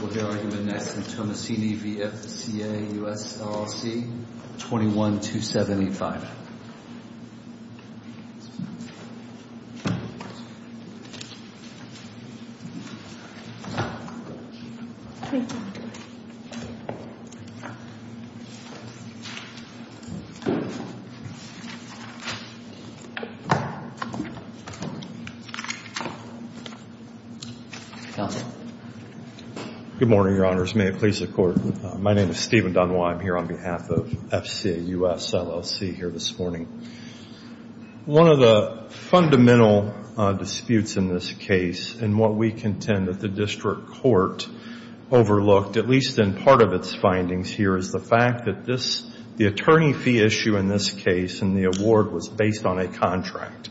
We'll hear argument next from Tomassini v. FCA US LLC, 21-2785. Good morning, Your Honors. May it please the Court. My name is Stephen Dunwoody. I'm here on behalf of FCA US LLC here this morning. One of the fundamental disputes in this case and what we contend that the district court overlooked, at least in part of its findings here, is the fact that the attorney fee issue in this case and the award was based on a contract.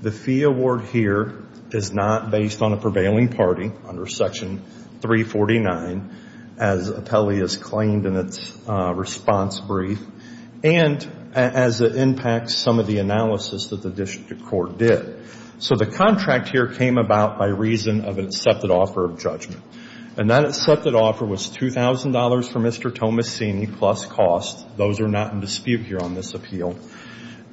The fee award here is not based on a prevailing party under Section 349, as Apelli has claimed in its response brief, and as it impacts some of the analysis that the district court did. So the contract here came about by reason of an accepted offer of judgment. And that accepted offer was $2,000 for Mr. Tomassini plus costs. Those are not in dispute here on this appeal.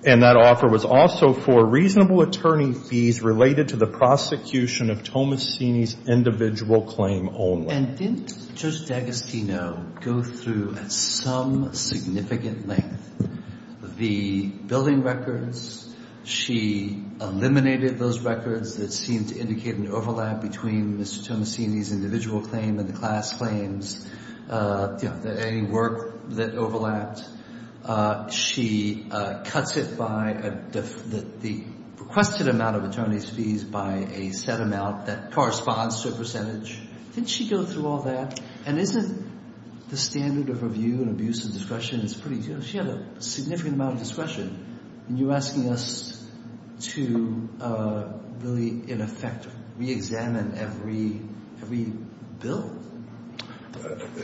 And that offer was also for reasonable attorney fees related to the prosecution of Tomassini's individual claim only. And didn't Judge D'Agostino go through at some significant length the billing records? She eliminated those records that seemed to indicate an overlap between Mr. Tomassini's individual claim and the class claims, any work that overlapped. She cuts it by the requested amount of attorney's fees by a set amount that corresponds to a percentage. Didn't she go through all that? And isn't the standard of review and abuse of discretion is pretty good? She had a significant amount of discretion. And you're asking us to really, in effect, reexamine every bill?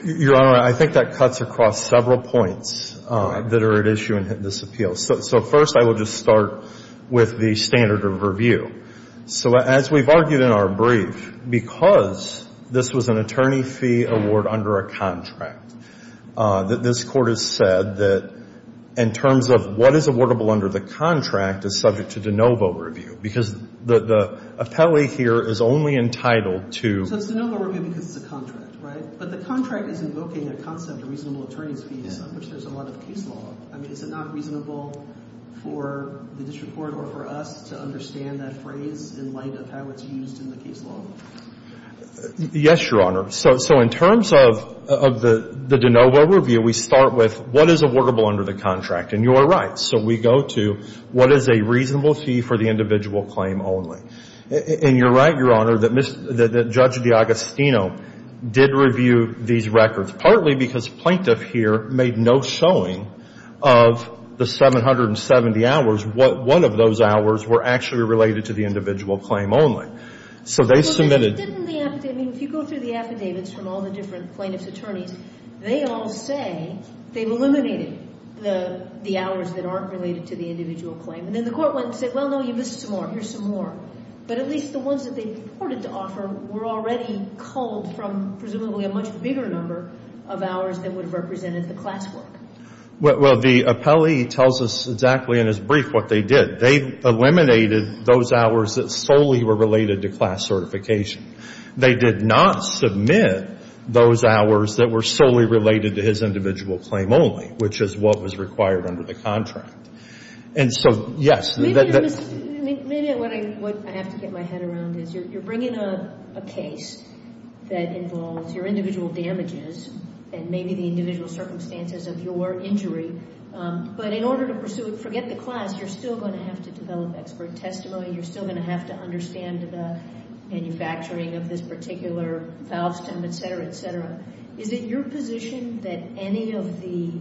Your Honor, I think that cuts across several points that are at issue in this appeal. So first I will just start with the standard of review. So as we've argued in our brief, because this was an attorney fee award under a contract, this Court has said that in terms of what is awardable under the contract is subject to de novo review. Because the appellee here is only entitled to — So it's de novo review because it's a contract, right? But the contract is invoking a concept of reasonable attorney's fees on which there's a lot of case law. I mean, is it not reasonable for the district court or for us to understand that phrase in light of how it's used in the case law? Yes, Your Honor. So in terms of the de novo review, we start with what is awardable under the contract. And you are right. So we go to what is a reasonable fee for the individual claim only. And you're right, Your Honor, that Judge D'Agostino did review these records, partly because plaintiff here made no showing of the 770 hours. One of those hours were actually related to the individual claim only. So they submitted — Well, then didn't the — I mean, if you go through the affidavits from all the different plaintiff's attorneys, they all say they've eliminated the hours that aren't related to the individual claim. And then the Court went and said, well, no, you missed some more. Here's some more. But at least the ones that they reported to offer were already culled from presumably a much bigger number of hours that would have represented the classwork. Well, the appellee tells us exactly in his brief what they did. They eliminated those hours that solely were related to class certification. They did not submit those hours that were solely related to his individual claim only, which is what was required under the contract. And so, yes. Maybe what I have to get my head around is you're bringing up a case that involves your individual damages and maybe the individual circumstances of your injury. But in order to pursue it, forget the class, you're still going to have to develop expert testimony. You're still going to have to understand the manufacturing of this particular valve stem, et cetera, et cetera. Is it your position that any of the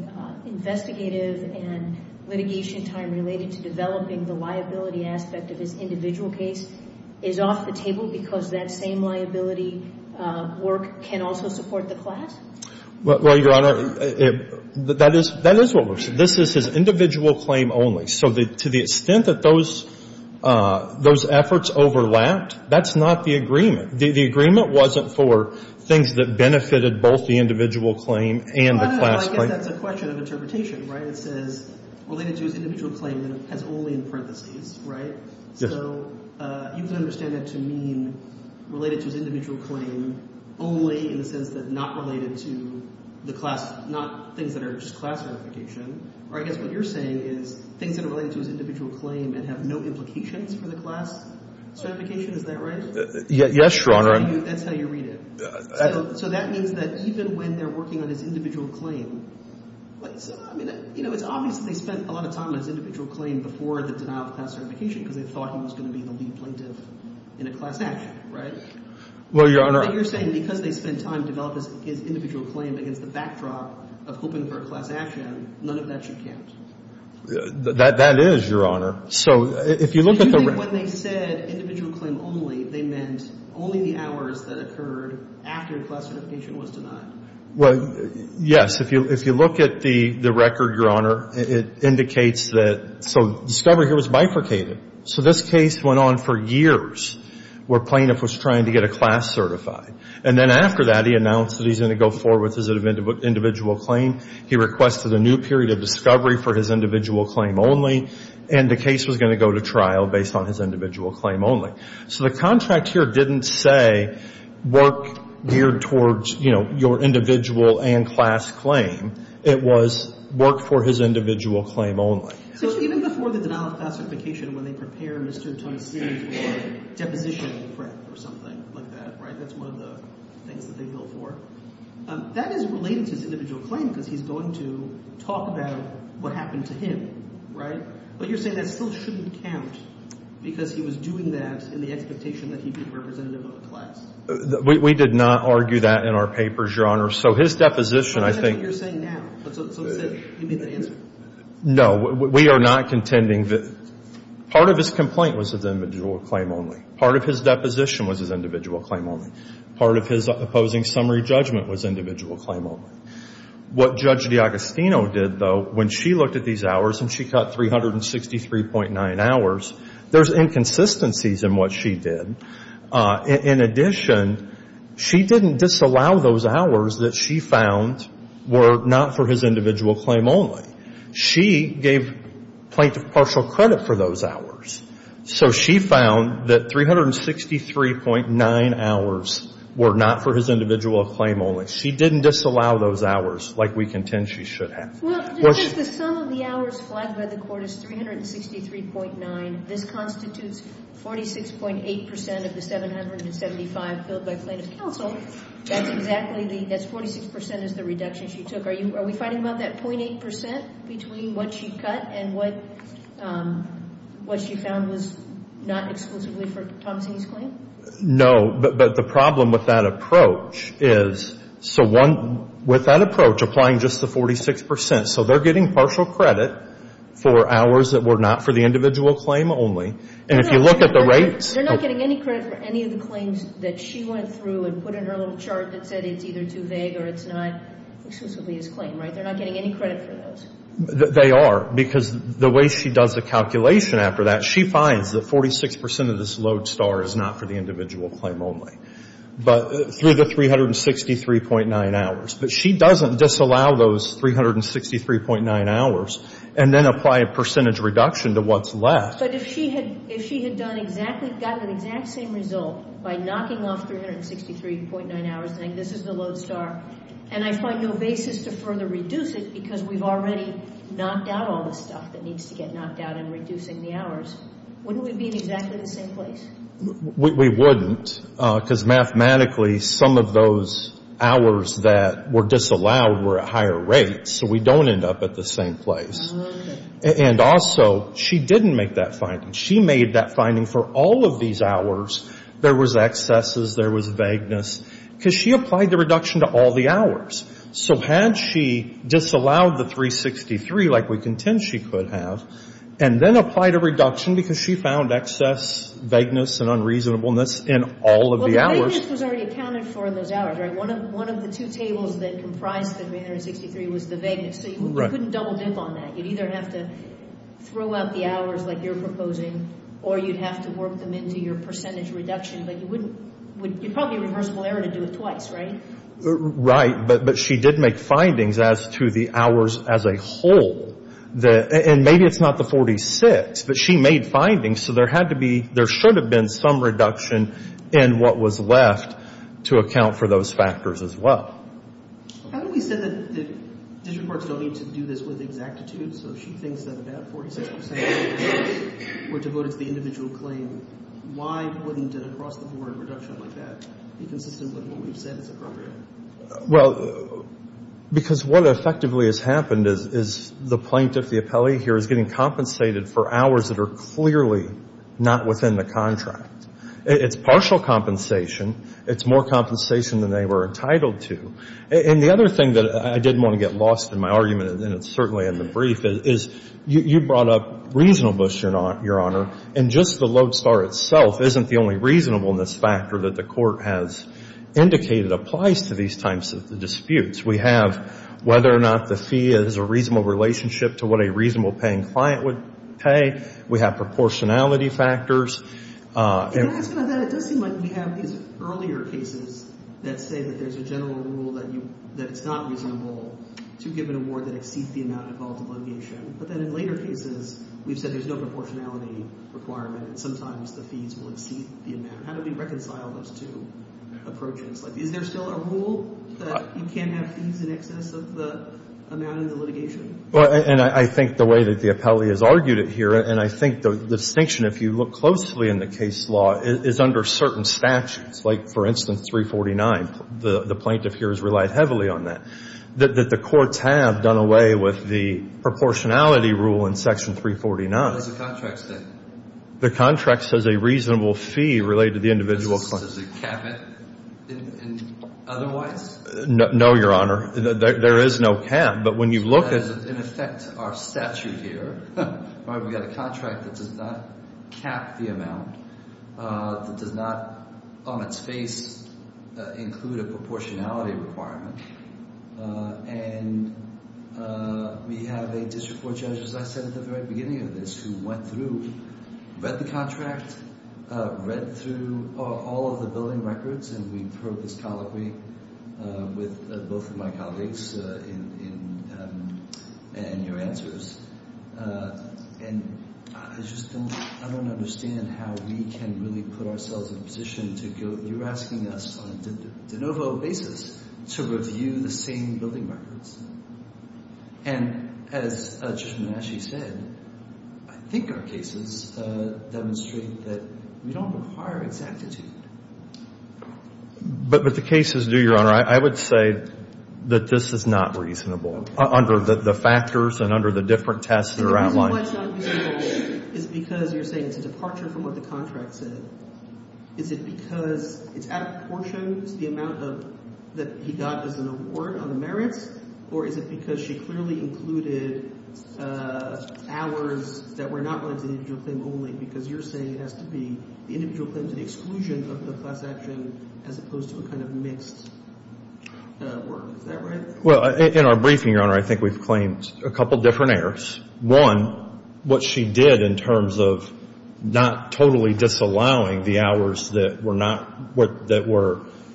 investigative and litigation time related to developing the liability aspect of his individual case is off the table because that same liability work can also support the class? Well, Your Honor, that is what we're saying. This is his individual claim only. So to the extent that those efforts overlapped, that's not the agreement. The agreement wasn't for things that benefited both the individual claim and the class claim. Well, I guess that's a question of interpretation, right? It says related to his individual claim and has only in parentheses, right? Yes. So you can understand that to mean related to his individual claim only in the sense that not related to the class, not things that are just class certification. Or I guess what you're saying is things that are related to his individual claim and have no implications for the class certification. Is that right? Yes, Your Honor. That's how you read it. So that means that even when they're working on his individual claim, I mean, it's obvious they spent a lot of time on his individual claim before the denial of class certification because they thought he was going to be the lead plaintiff in a class action, right? Well, Your Honor. But you're saying because they spent time developing his individual claim against the backdrop of hoping for a class action, none of that should count. That is, Your Honor. When they said individual claim only, they meant only the hours that occurred after class certification was denied. Well, yes. If you look at the record, Your Honor, it indicates that so discovery here was bifurcated. So this case went on for years where plaintiff was trying to get a class certified. And then after that, he announced that he's going to go forward with his individual claim. He requested a new period of discovery for his individual claim only and the case was going to go to trial based on his individual claim only. So the contract here didn't say work geared towards, you know, your individual and class claim. It was work for his individual claim only. So even before the denial of class certification, when they prepare Mr. Thompson for deposition of the print or something like that, right? That's one of the things that they go for. That is related to his individual claim because he's going to talk about what happened to him, right? But you're saying that still shouldn't count because he was doing that in the expectation that he'd be representative of a class. We did not argue that in our papers, Your Honor. So his deposition, I think — That's what you're saying now. But so to say he made that answer. No. We are not contending that part of his complaint was his individual claim only. Part of his deposition was his individual claim only. Part of his opposing summary judgment was individual claim only. What Judge DiAgostino did, though, when she looked at these hours and she cut 363.9 hours, there's inconsistencies in what she did. In addition, she didn't disallow those hours that she found were not for his individual claim only. She gave plaintiff partial credit for those hours. So she found that 363.9 hours were not for his individual claim only. She didn't disallow those hours like we contend she should have. Well, the sum of the hours flagged by the court is 363.9. This constitutes 46.8% of the 775 filled by plaintiff counsel. That's exactly the — that's 46% is the reduction she took. Are we fighting about that 0.8% between what she cut and what she found was not exclusively for Tomasini's claim? No. But the problem with that approach is so one — with that approach applying just the 46%. So they're getting partial credit for hours that were not for the individual claim only. And if you look at the rates — They're not getting any credit for any of the claims that she went through and put in her little chart that said it's either too vague or it's not exclusively his claim, right? They're not getting any credit for those. They are. Because the way she does the calculation after that, she finds that 46% of this load star is not for the individual claim only. But through the 363.9 hours. But she doesn't disallow those 363.9 hours and then apply a percentage reduction to what's left. But if she had done exactly — gotten the exact same result by knocking off 363.9 hours and saying this is the load star, and I find no basis to further reduce it because we've already knocked out all the stuff that needs to get knocked out in reducing the hours, wouldn't we be in exactly the same place? We wouldn't. Because mathematically some of those hours that were disallowed were at higher rates. So we don't end up at the same place. Okay. And also she didn't make that finding. She made that finding for all of these hours there was excesses, there was vagueness. Because she applied the reduction to all the hours. So had she disallowed the 363 like we contend she could have, and then applied a reduction because she found excess, vagueness, and unreasonableness in all of the hours. Well, the vagueness was already accounted for in those hours, right? One of the two tables that comprised the 363 was the vagueness. So you couldn't double dip on that. You'd either have to throw out the hours like you're proposing or you'd have to work them into your percentage reduction. But you wouldn't. You'd probably have a reversible error to do it twice, right? Right. But she did make findings as to the hours as a whole. And maybe it's not the 46, but she made findings. So there had to be, there should have been some reduction in what was left to account for those factors as well. Haven't we said that district parks don't need to do this with exactitude? So she thinks that about 46% were devoted to the individual claim. Why wouldn't an across-the-board reduction like that be consistent with what we've said is appropriate? Well, because what effectively has happened is the plaintiff, the appellee here, is getting compensated for hours that are clearly not within the contract. It's partial compensation. It's more compensation than they were entitled to. And the other thing that I didn't want to get lost in my argument, and it's certainly in the brief, is you brought up reasonableness, Your Honor, and just the lodestar itself isn't the only reasonableness factor that the court has indicated applies to these types of disputes. We have whether or not the fee is a reasonable relationship to what a reasonable-paying client would pay. We have proportionality factors. Can I ask about that? It does seem like we have these earlier cases that say that there's a general rule that it's not reasonable to give an award that exceeds the amount involved in litigation, but then in later cases we've said there's no proportionality requirement and sometimes the fees will exceed the amount. How do we reconcile those two approaches? Like, is there still a rule that you can't have fees in excess of the amount in the litigation? Well, and I think the way that the appellee has argued it here, and I think the distinction, if you look closely in the case law, is under certain statutes. Like, for instance, 349, the plaintiff here has relied heavily on that, that the courts have done away with the proportionality rule in Section 349. What does the contract say? The contract says a reasonable fee related to the individual client. Does it cap it otherwise? No, Your Honor. There is no cap, but when you look at it. Our statute here, we've got a contract that does not cap the amount, that does not on its face include a proportionality requirement, and we have a district court judge, as I said at the very beginning of this, who went through, read the contract, read through all of the billing records, and we throw this colloquy with both of my colleagues in your answers, and I just don't understand how we can really put ourselves in a position to go, you're asking us on a de novo basis to review the same billing records. And as Judge Manasci said, I think our cases demonstrate that we don't require exactitude. But the cases do, Your Honor. I would say that this is not reasonable under the factors and under the different tests that are outlined. The reason why it's not reasonable is because you're saying it's a departure from what the contract said. Is it because it's out of proportion to the amount that he got as an award on the individual claim, or is it because she clearly included hours that were not related to the individual claim only, because you're saying it has to be the individual claim to the exclusion of the class action as opposed to a kind of mixed work. Is that right? Well, in our briefing, Your Honor, I think we've claimed a couple different errors. One, what she did in terms of not totally disallowing the hours that were not what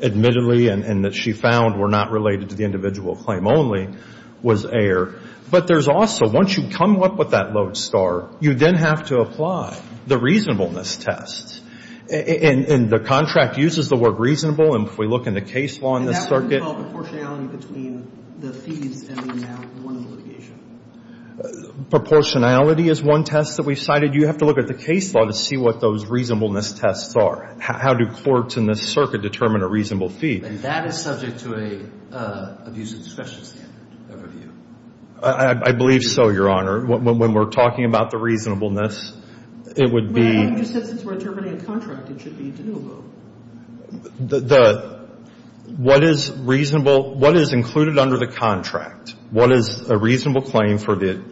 admittedly and that she found were not related to the individual claim only was error. But there's also, once you come up with that lodestar, you then have to apply the reasonableness test. And the contract uses the word reasonable, and if we look in the case law in this circuit. And that would involve proportionality between the fees and the amount of litigation. Proportionality is one test that we've cited. You have to look at the case law to see what those reasonableness tests are. How do courts in this circuit determine a reasonable fee? And that is subject to an abuse of discretion standard overview. I believe so, Your Honor. When we're talking about the reasonableness, it would be. Well, you said since we're determining a contract, it should be de novo. The, what is reasonable, what is included under the contract? What is a reasonable claim for the,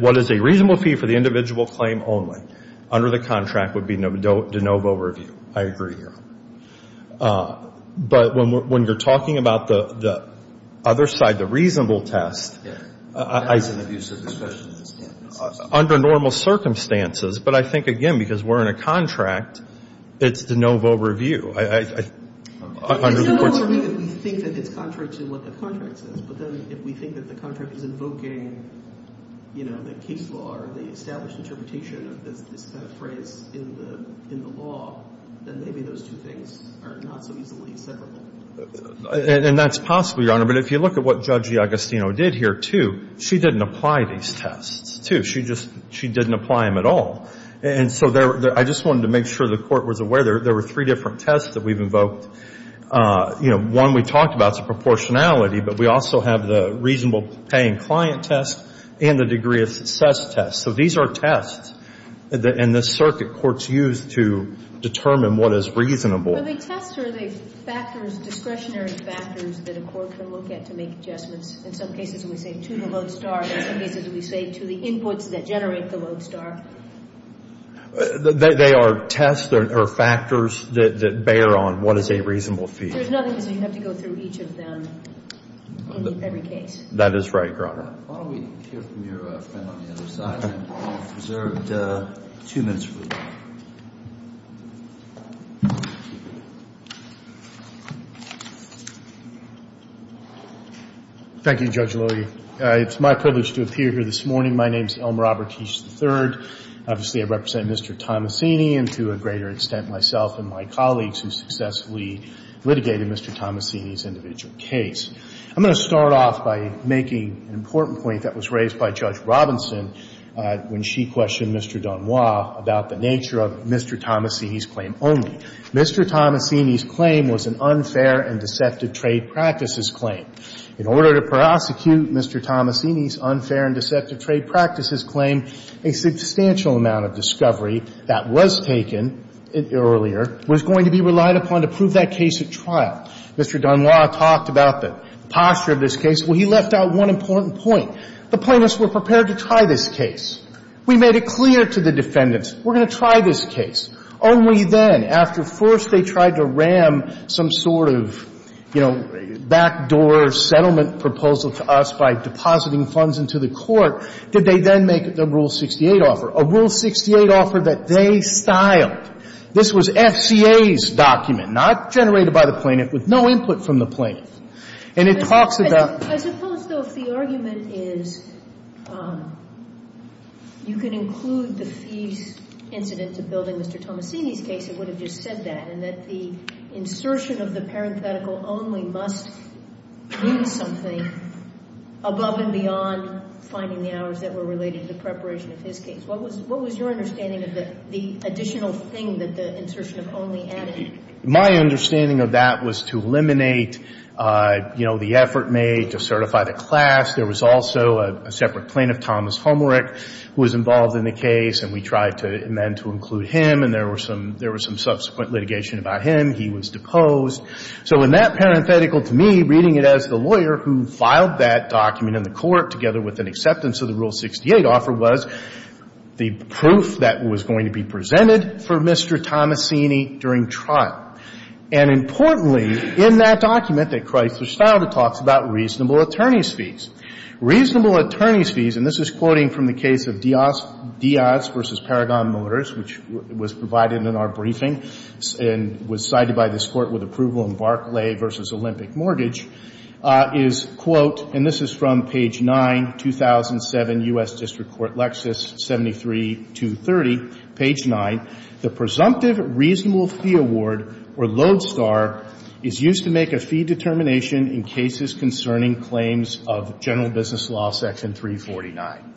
what is a reasonable fee for the individual claim only? Under the contract would be de novo review. I agree, Your Honor. But when you're talking about the other side, the reasonable test. Under normal circumstances. But I think, again, because we're in a contract, it's de novo review. It's de novo review if we think that it's contrary to what the contract says. But then if we think that the contract is invoking, you know, the case law or the kind of phrase in the law, then maybe those two things are not so easily separate. And that's possible, Your Honor. But if you look at what Judge Agostino did here, too, she didn't apply these tests, too. She just, she didn't apply them at all. And so there, I just wanted to make sure the Court was aware there were three different tests that we've invoked. You know, one we talked about is the proportionality, but we also have the reasonable paying client test and the degree of success test. So these are tests in the circuit courts use to determine what is reasonable. Are they tests or are they factors, discretionary factors that a court can look at to make adjustments? In some cases, we say to the load star. In some cases, we say to the inputs that generate the load star. They are tests or factors that bear on what is a reasonable fee. There's nothing because you have to go through each of them in every case. That is right, Your Honor. Why don't we hear from your friend on the other side? And we'll reserve two minutes for that. Thank you, Judge Lowy. It's my privilege to appear here this morning. My name is Elmer Albertich III. Obviously, I represent Mr. Tomasini and, to a greater extent, myself and my colleagues who successfully litigated Mr. Tomasini's individual case. I'm going to start off by making an important point that was raised by Judge Robinson when she questioned Mr. Dunois about the nature of Mr. Tomasini's claim only. Mr. Tomasini's claim was an unfair and deceptive trade practices claim. In order to prosecute Mr. Tomasini's unfair and deceptive trade practices claim, a substantial amount of discovery that was taken earlier was going to be relied upon to prove that case at trial. Mr. Dunois talked about the posture of this case. Well, he left out one important point. The plaintiffs were prepared to try this case. We made it clear to the defendants, we're going to try this case. Only then, after first they tried to ram some sort of, you know, backdoor settlement proposal to us by depositing funds into the court, did they then make the Rule 68 offer, a Rule 68 offer that they styled. This was the plaintiff's argument. This was FCA's document, not generated by the plaintiff, with no input from the plaintiff. And it talks about the rule 68 offer, and it talks about the fact that it's, you know, a pretty good argument. I suppose, though, if the argument is you can include the fee incident to building Mr. Tomasini's case, it would have just said that, and that the insertion of the thing that the insertion of only added. My understanding of that was to eliminate, you know, the effort made to certify the class. There was also a separate plaintiff, Thomas Homerick, who was involved in the case, and we tried to amend to include him, and there were some subsequent litigation about him. He was deposed. So in that parenthetical, to me, reading it as the lawyer who filed that document in the court together with an acceptance of the rule 68 offer was the proof that was going to be presented for Mr. Tomasini during trial. And importantly, in that document that Chrysler filed, it talks about reasonable attorneys' fees. Reasonable attorneys' fees, and this is quoting from the case of Diaz v. Paragon Motors, which was provided in our briefing and was cited by this Court with approval in Barclay v. Olympic Mortgage, is, quote, and this is from page 9, 2007 U.S. District Court Lexis 73-230, page 9, the presumptive reasonable fee award, or LODESTAR, is used to make a fee determination in cases concerning claims of general business law, section 349.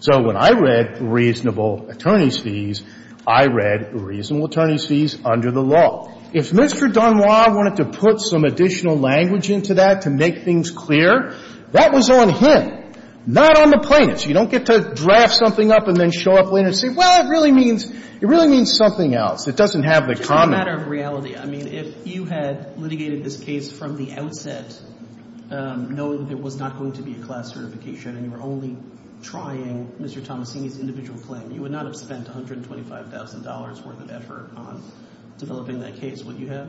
So when I read reasonable attorneys' fees, I read reasonable attorneys' fees under the law. If Mr. Dunois wanted to put some additional language into that to make things clear, that was on him, not on the plaintiffs. You don't get to draft something up and then show up later and say, well, it really means something else. It doesn't have the comment. It's a matter of reality. I mean, if you had litigated this case from the outset, knowing that there was not going to be a class certification and you were only trying Mr. Tomasini's individual claim, you would not have spent $125,000 worth of effort on developing that case, would you have?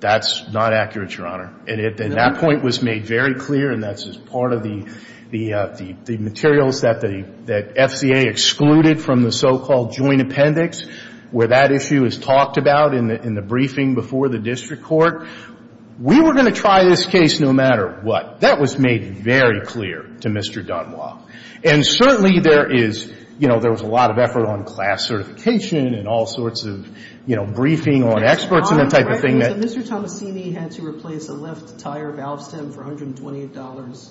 That's not accurate, Your Honor. And that point was made very clear, and that's part of the materials that the FCA excluded from the so-called joint appendix, where that issue is talked about in the briefing before the district court. We were going to try this case no matter what. That was made very clear to Mr. Dunois. And certainly there is, you know, there was a lot of effort on class certification and all sorts of, you know, briefing on experts and that type of thing. So Mr. Tomasini had to replace the left tire valve stem for $128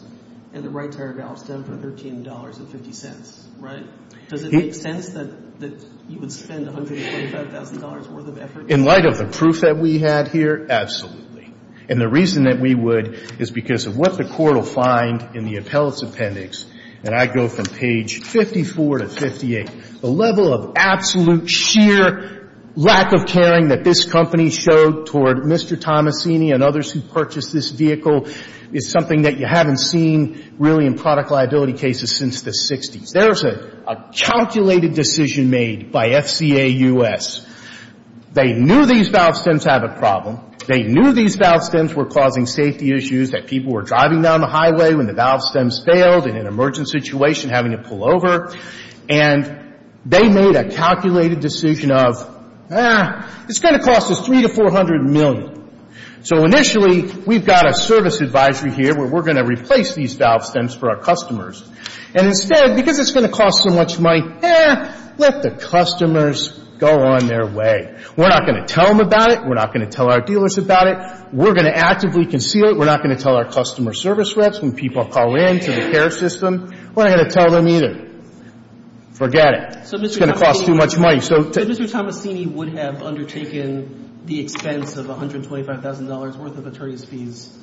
and the right tire valve stem for $13.50, right? Does it make sense that you would spend $125,000 worth of effort? In light of the proof that we had here, absolutely. And the reason that we would is because of what the court will find in the appellate's appendix, and I go from page 54 to 58, the level of absolute sheer lack of caring that this company showed toward Mr. Tomasini and others who purchased this vehicle is something that you haven't seen really in product liability cases since the 60s. There's a calculated decision made by FCA U.S. They knew these valve stems have a problem. They knew these valve stems were causing safety issues, that people were driving down the highway when the valve stems failed in an emergent situation having to pull over, and they made a calculated decision of, eh, it's going to cost us $300 to $400 million. So initially, we've got a service advisory here where we're going to replace these valve stems for our customers. And instead, because it's going to cost so much money, eh, let the customers go on their way. We're not going to tell them about it. We're not going to tell our dealers about it. We're going to actively conceal it. We're not going to tell our customer service reps when people call in to the care system. We're not going to tell them either. Forget it. It's going to cost too much money. So Mr. Tomasini would have undertaken the expense of $125,000 worth of attorney's fees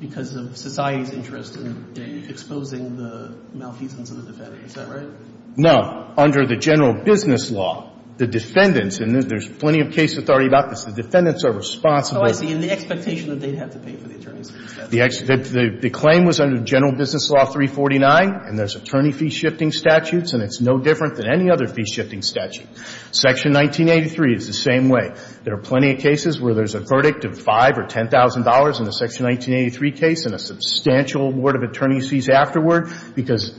because of society's interest in exposing the malfeasance of the defendant. Is that right? No. Under the general business law, the defendants, and there's plenty of case authority about this, the defendants are responsible. And the expectation that they'd have to pay for the attorney's fees. The claim was under general business law 349, and there's attorney fee shifting statutes, and it's no different than any other fee shifting statute. Section 1983 is the same way. There are plenty of cases where there's a verdict of $5,000 or $10,000 in the Section 1983 case and a substantial award of attorney's fees afterward because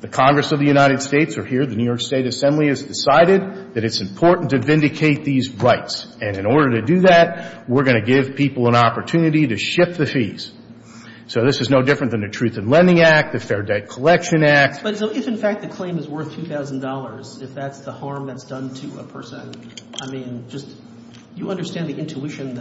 the Congress of the United States are here, the New York State Assembly has decided that it's important to vindicate these rights. And in order to do that, we're going to give people an opportunity to shift the fees. So this is no different than the Truth in Lending Act, the Fair Debt Collection Act. But if in fact the claim is worth $2,000, if that's the harm that's done to a person, I mean, just you understand the intuition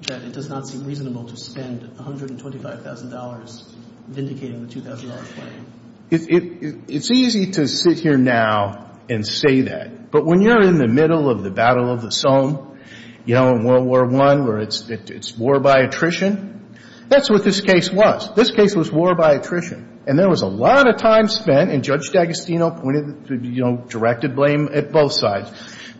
that it does not seem reasonable to spend $125,000 vindicating the $2,000 claim. It's easy to sit here now and say that. But when you're in the middle of the Battle of the Somme, you know, in World War I where it's war by attrition, that's what this case was. This case was war by attrition. And there was a lot of time spent, and Judge D'Agostino pointed to, you know, directed blame at both sides.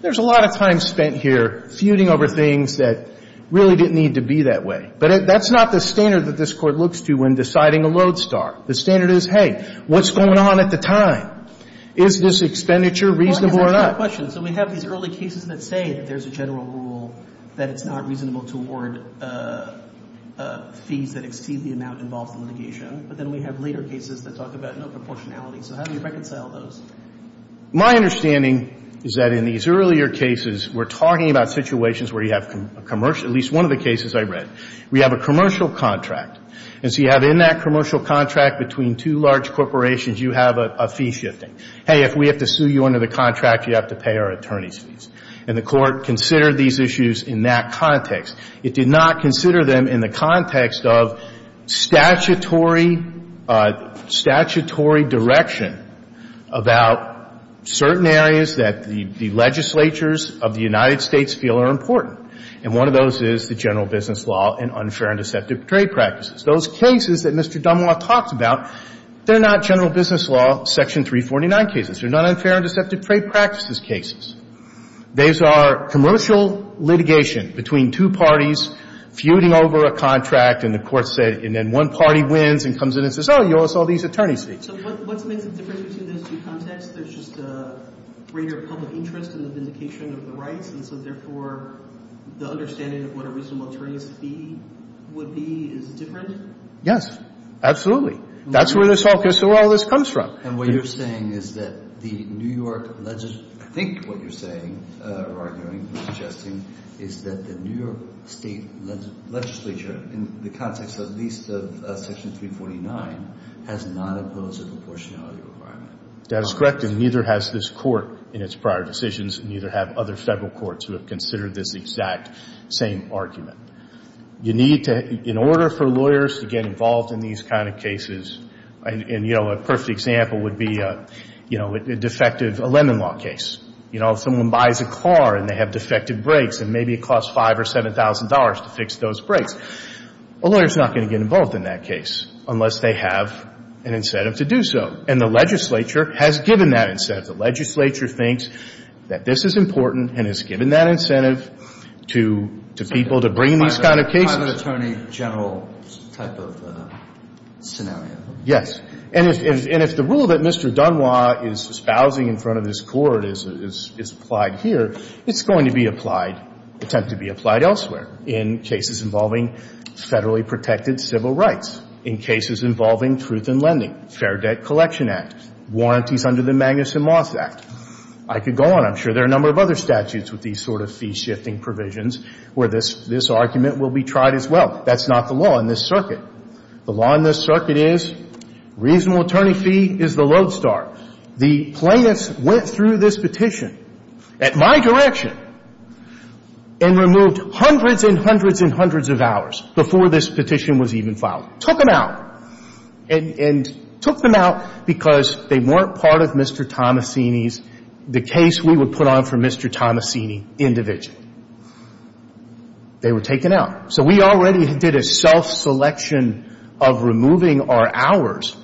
There's a lot of time spent here feuding over things that really didn't need to be that way. But that's not the standard that this Court looks to when deciding a lodestar. The standard is, hey, what's going on at the time? Is this expenditure reasonable or not? Well, I guess that's my question. So we have these early cases that say that there's a general rule that it's not reasonable to award fees that exceed the amount involved in litigation. But then we have later cases that talk about no proportionality. So how do you reconcile those? My understanding is that in these earlier cases, we're talking about situations where you have a commercial – at least one of the cases I read. We have a commercial contract. And so you have in that commercial contract between two large corporations, you have a fee shifting. Hey, if we have to sue you under the contract, you have to pay our attorney's fees. And the Court considered these issues in that context. It did not consider them in the context of statutory – statutory direction about certain areas that the legislatures of the United States feel are important. And one of those is the general business law and unfair and deceptive trade practices. Those cases that Mr. Dunlop talked about, they're not general business law Section 349 cases. They're not unfair and deceptive trade practices cases. Those are commercial litigation between two parties feuding over a contract, and the Court said – and then one party wins and comes in and says, oh, you owe us all these attorney's fees. So what's the difference between those two contexts? There's just a greater public interest in the vindication of the rights, and so therefore the understanding of what a reasonable attorney's fee would be is different? Yes. Absolutely. That's where this all – that's where all this comes from. And what you're saying is that the New York – I think what you're saying or arguing or suggesting is that the New York State legislature, in the context at least of Section 349, has not imposed a proportionality requirement. That is correct, and neither has this Court in its prior decisions, neither have other Federal courts who have considered this exact same argument. You need to – in order for lawyers to get involved in these kind of cases – and, you know, a perfect example would be, you know, a defective – a lemon law case. You know, if someone buys a car and they have defective brakes and maybe it costs $5,000 or $7,000 to fix those brakes, a lawyer is not going to get involved in that case unless they have an incentive to do so. And the legislature has given that incentive. The legislature thinks that this is important and has given that incentive to people to bring these kind of cases. It's a private attorney general type of scenario. Yes. And if the rule that Mr. Dunois is espousing in front of this Court is applied here, it's going to be applied – attempt to be applied elsewhere in cases involving federally protected civil rights, in cases involving truth in lending, Fair Debt Collection Act, warranties under the Magnuson-Moss Act. I could go on. I'm sure there are a number of other statutes with these sort of fee-shifting provisions where this – this argument will be tried as well. That's not the law in this circuit. The law in this circuit is reasonable attorney fee is the lodestar. The plaintiffs went through this petition at my direction and removed hundreds and hundreds and hundreds of hours before this petition was even filed. Took them out. And took them out because they weren't part of Mr. Tomasini's – the case we would put on for Mr. Tomasini individually. They were taken out. So we already did a self-selection of removing our hours.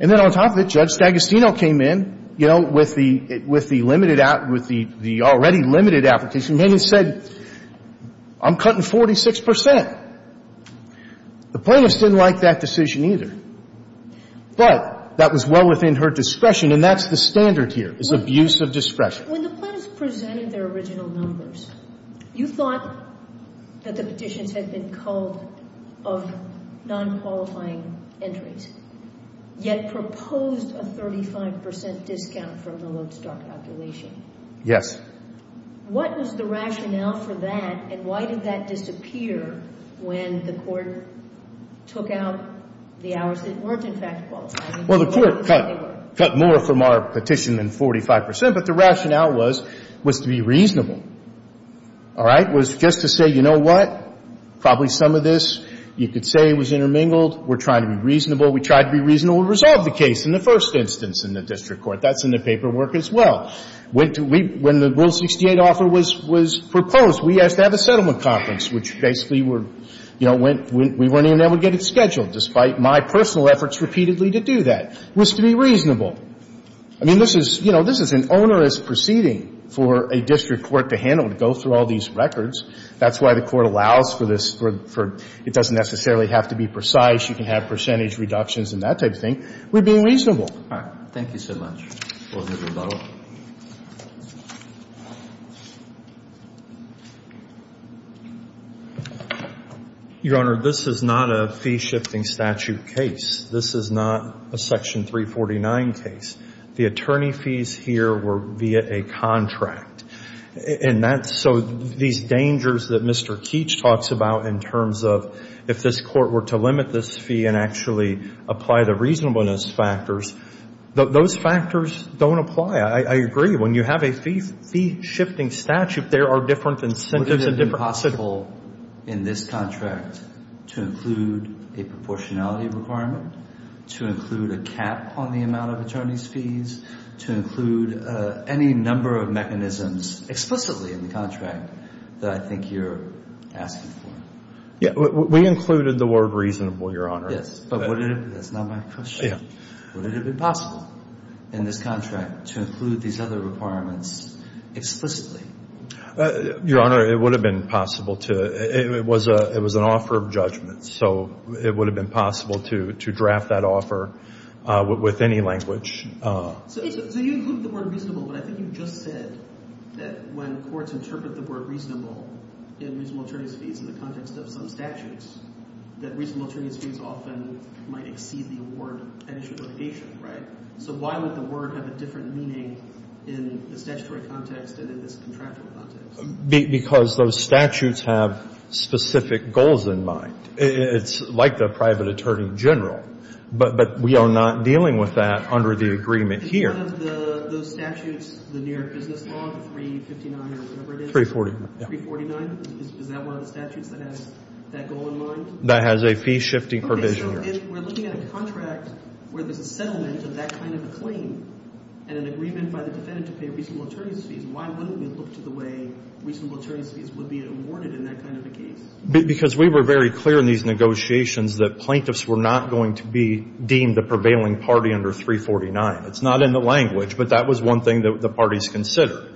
And then on top of it, Judge Stagastino came in, you know, with the – with the limited – with the already limited application, came in and said, I'm cutting 46 percent. The plaintiffs didn't like that decision either. But that was well within her discretion. And that's the standard here is abuse of discretion. When the plaintiffs presented their original numbers, you thought that the petitions had been called of non-qualifying entries, yet proposed a 35 percent discount from the lodestar calculation. Yes. What was the rationale for that? And why did that disappear when the court took out the hours that weren't in fact qualifying? Well, the court cut – cut more from our petition than 45 percent. But the rationale was – was to be reasonable. All right? Was just to say, you know what? Probably some of this you could say was intermingled. We're trying to be reasonable. We tried to be reasonable to resolve the case in the first instance in the district court. That's in the paperwork as well. When the Rule 68 offer was – was proposed, we asked to have a settlement conference, which basically were – you know, went – we weren't even able to get it scheduled, despite my personal efforts repeatedly to do that. It was to be reasonable. I mean, this is – you know, this is an onerous proceeding for a district court to handle, to go through all these records. That's why the court allows for this for – for – it doesn't necessarily have to be precise. You can have percentage reductions and that type of thing. We're being reasonable. All right. Thank you so much. Well, Mr. Bello. Your Honor, this is not a fee-shifting statute case. This is not a Section 349 case. The attorney fees here were via a contract. And that's – so these dangers that Mr. Keach talks about in terms of if this court were to limit this fee and actually apply the reasonableness factors, those factors don't apply. I agree. When you have a fee-shifting statute, there are different incentives and different – Would it have been possible in this contract to include a proportionality requirement, to include a cap on the amount of attorney's fees, to include any number of mechanisms explicitly in the contract that I think you're asking for? Yeah. We included the word reasonable, Your Honor. Yes. But would it have – that's not my question. Yeah. Would it have been possible in this contract to include these other requirements explicitly? Your Honor, it would have been possible to – it was an offer of judgment. So it would have been possible to draft that offer with any language. So you include the word reasonable, but I think you just said that when courts interpret the word reasonable in reasonable attorney's fees in the context of some So why would the word have a different meaning in the statutory context than in this contractual context? Because those statutes have specific goals in mind. It's like the private attorney general. But we are not dealing with that under the agreement here. Is one of those statutes, the New York Business Law, 359 or whatever it is? 349. 349? Is that one of the statutes that has that goal in mind? That has a fee-shifting provision here. If we're looking at a contract where there's a settlement of that kind of a claim and an agreement by the defendant to pay reasonable attorney's fees, why wouldn't we look to the way reasonable attorney's fees would be awarded in that kind of a case? Because we were very clear in these negotiations that plaintiffs were not going to be deemed the prevailing party under 349. It's not in the language, but that was one thing that the parties considered,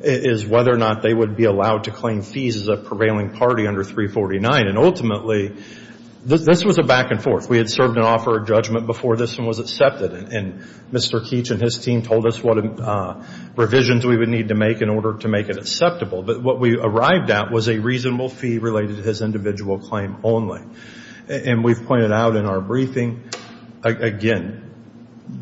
is whether or not they would be allowed to claim fees as a prevailing party under 349. And ultimately, this was a back and forth. We had served an offer of judgment before this one was accepted, and Mr. Keech and his team told us what revisions we would need to make in order to make it acceptable. But what we arrived at was a reasonable fee related to his individual claim only. And we've pointed out in our briefing, again,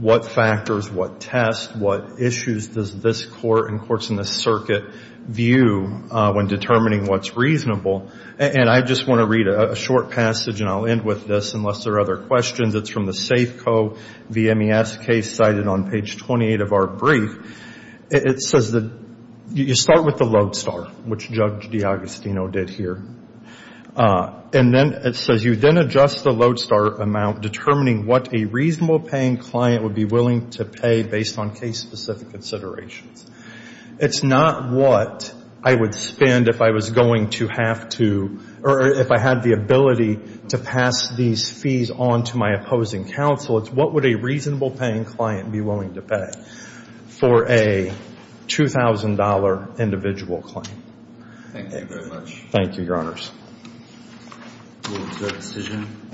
what factors, what tests, what issues does this court and courts in this circuit view when determining what's reasonable? And I just want to read a short passage, and I'll end with this, unless there are other questions. It's from the Safeco V.M.E.S. case cited on page 28 of our brief. It says that you start with the lodestar, which Judge D'Agostino did here. And then it says, you then adjust the lodestar amount determining what a reasonable paying client would be willing to pay based on case-specific considerations. It's not what I would spend if I was going to have to, or if I had the ability to pass these fees on to my opposing counsel. It's what would a reasonable paying client be willing to pay for a $2,000 individual claim. Thank you very much. Thank you, Your Honors. Move to a decision.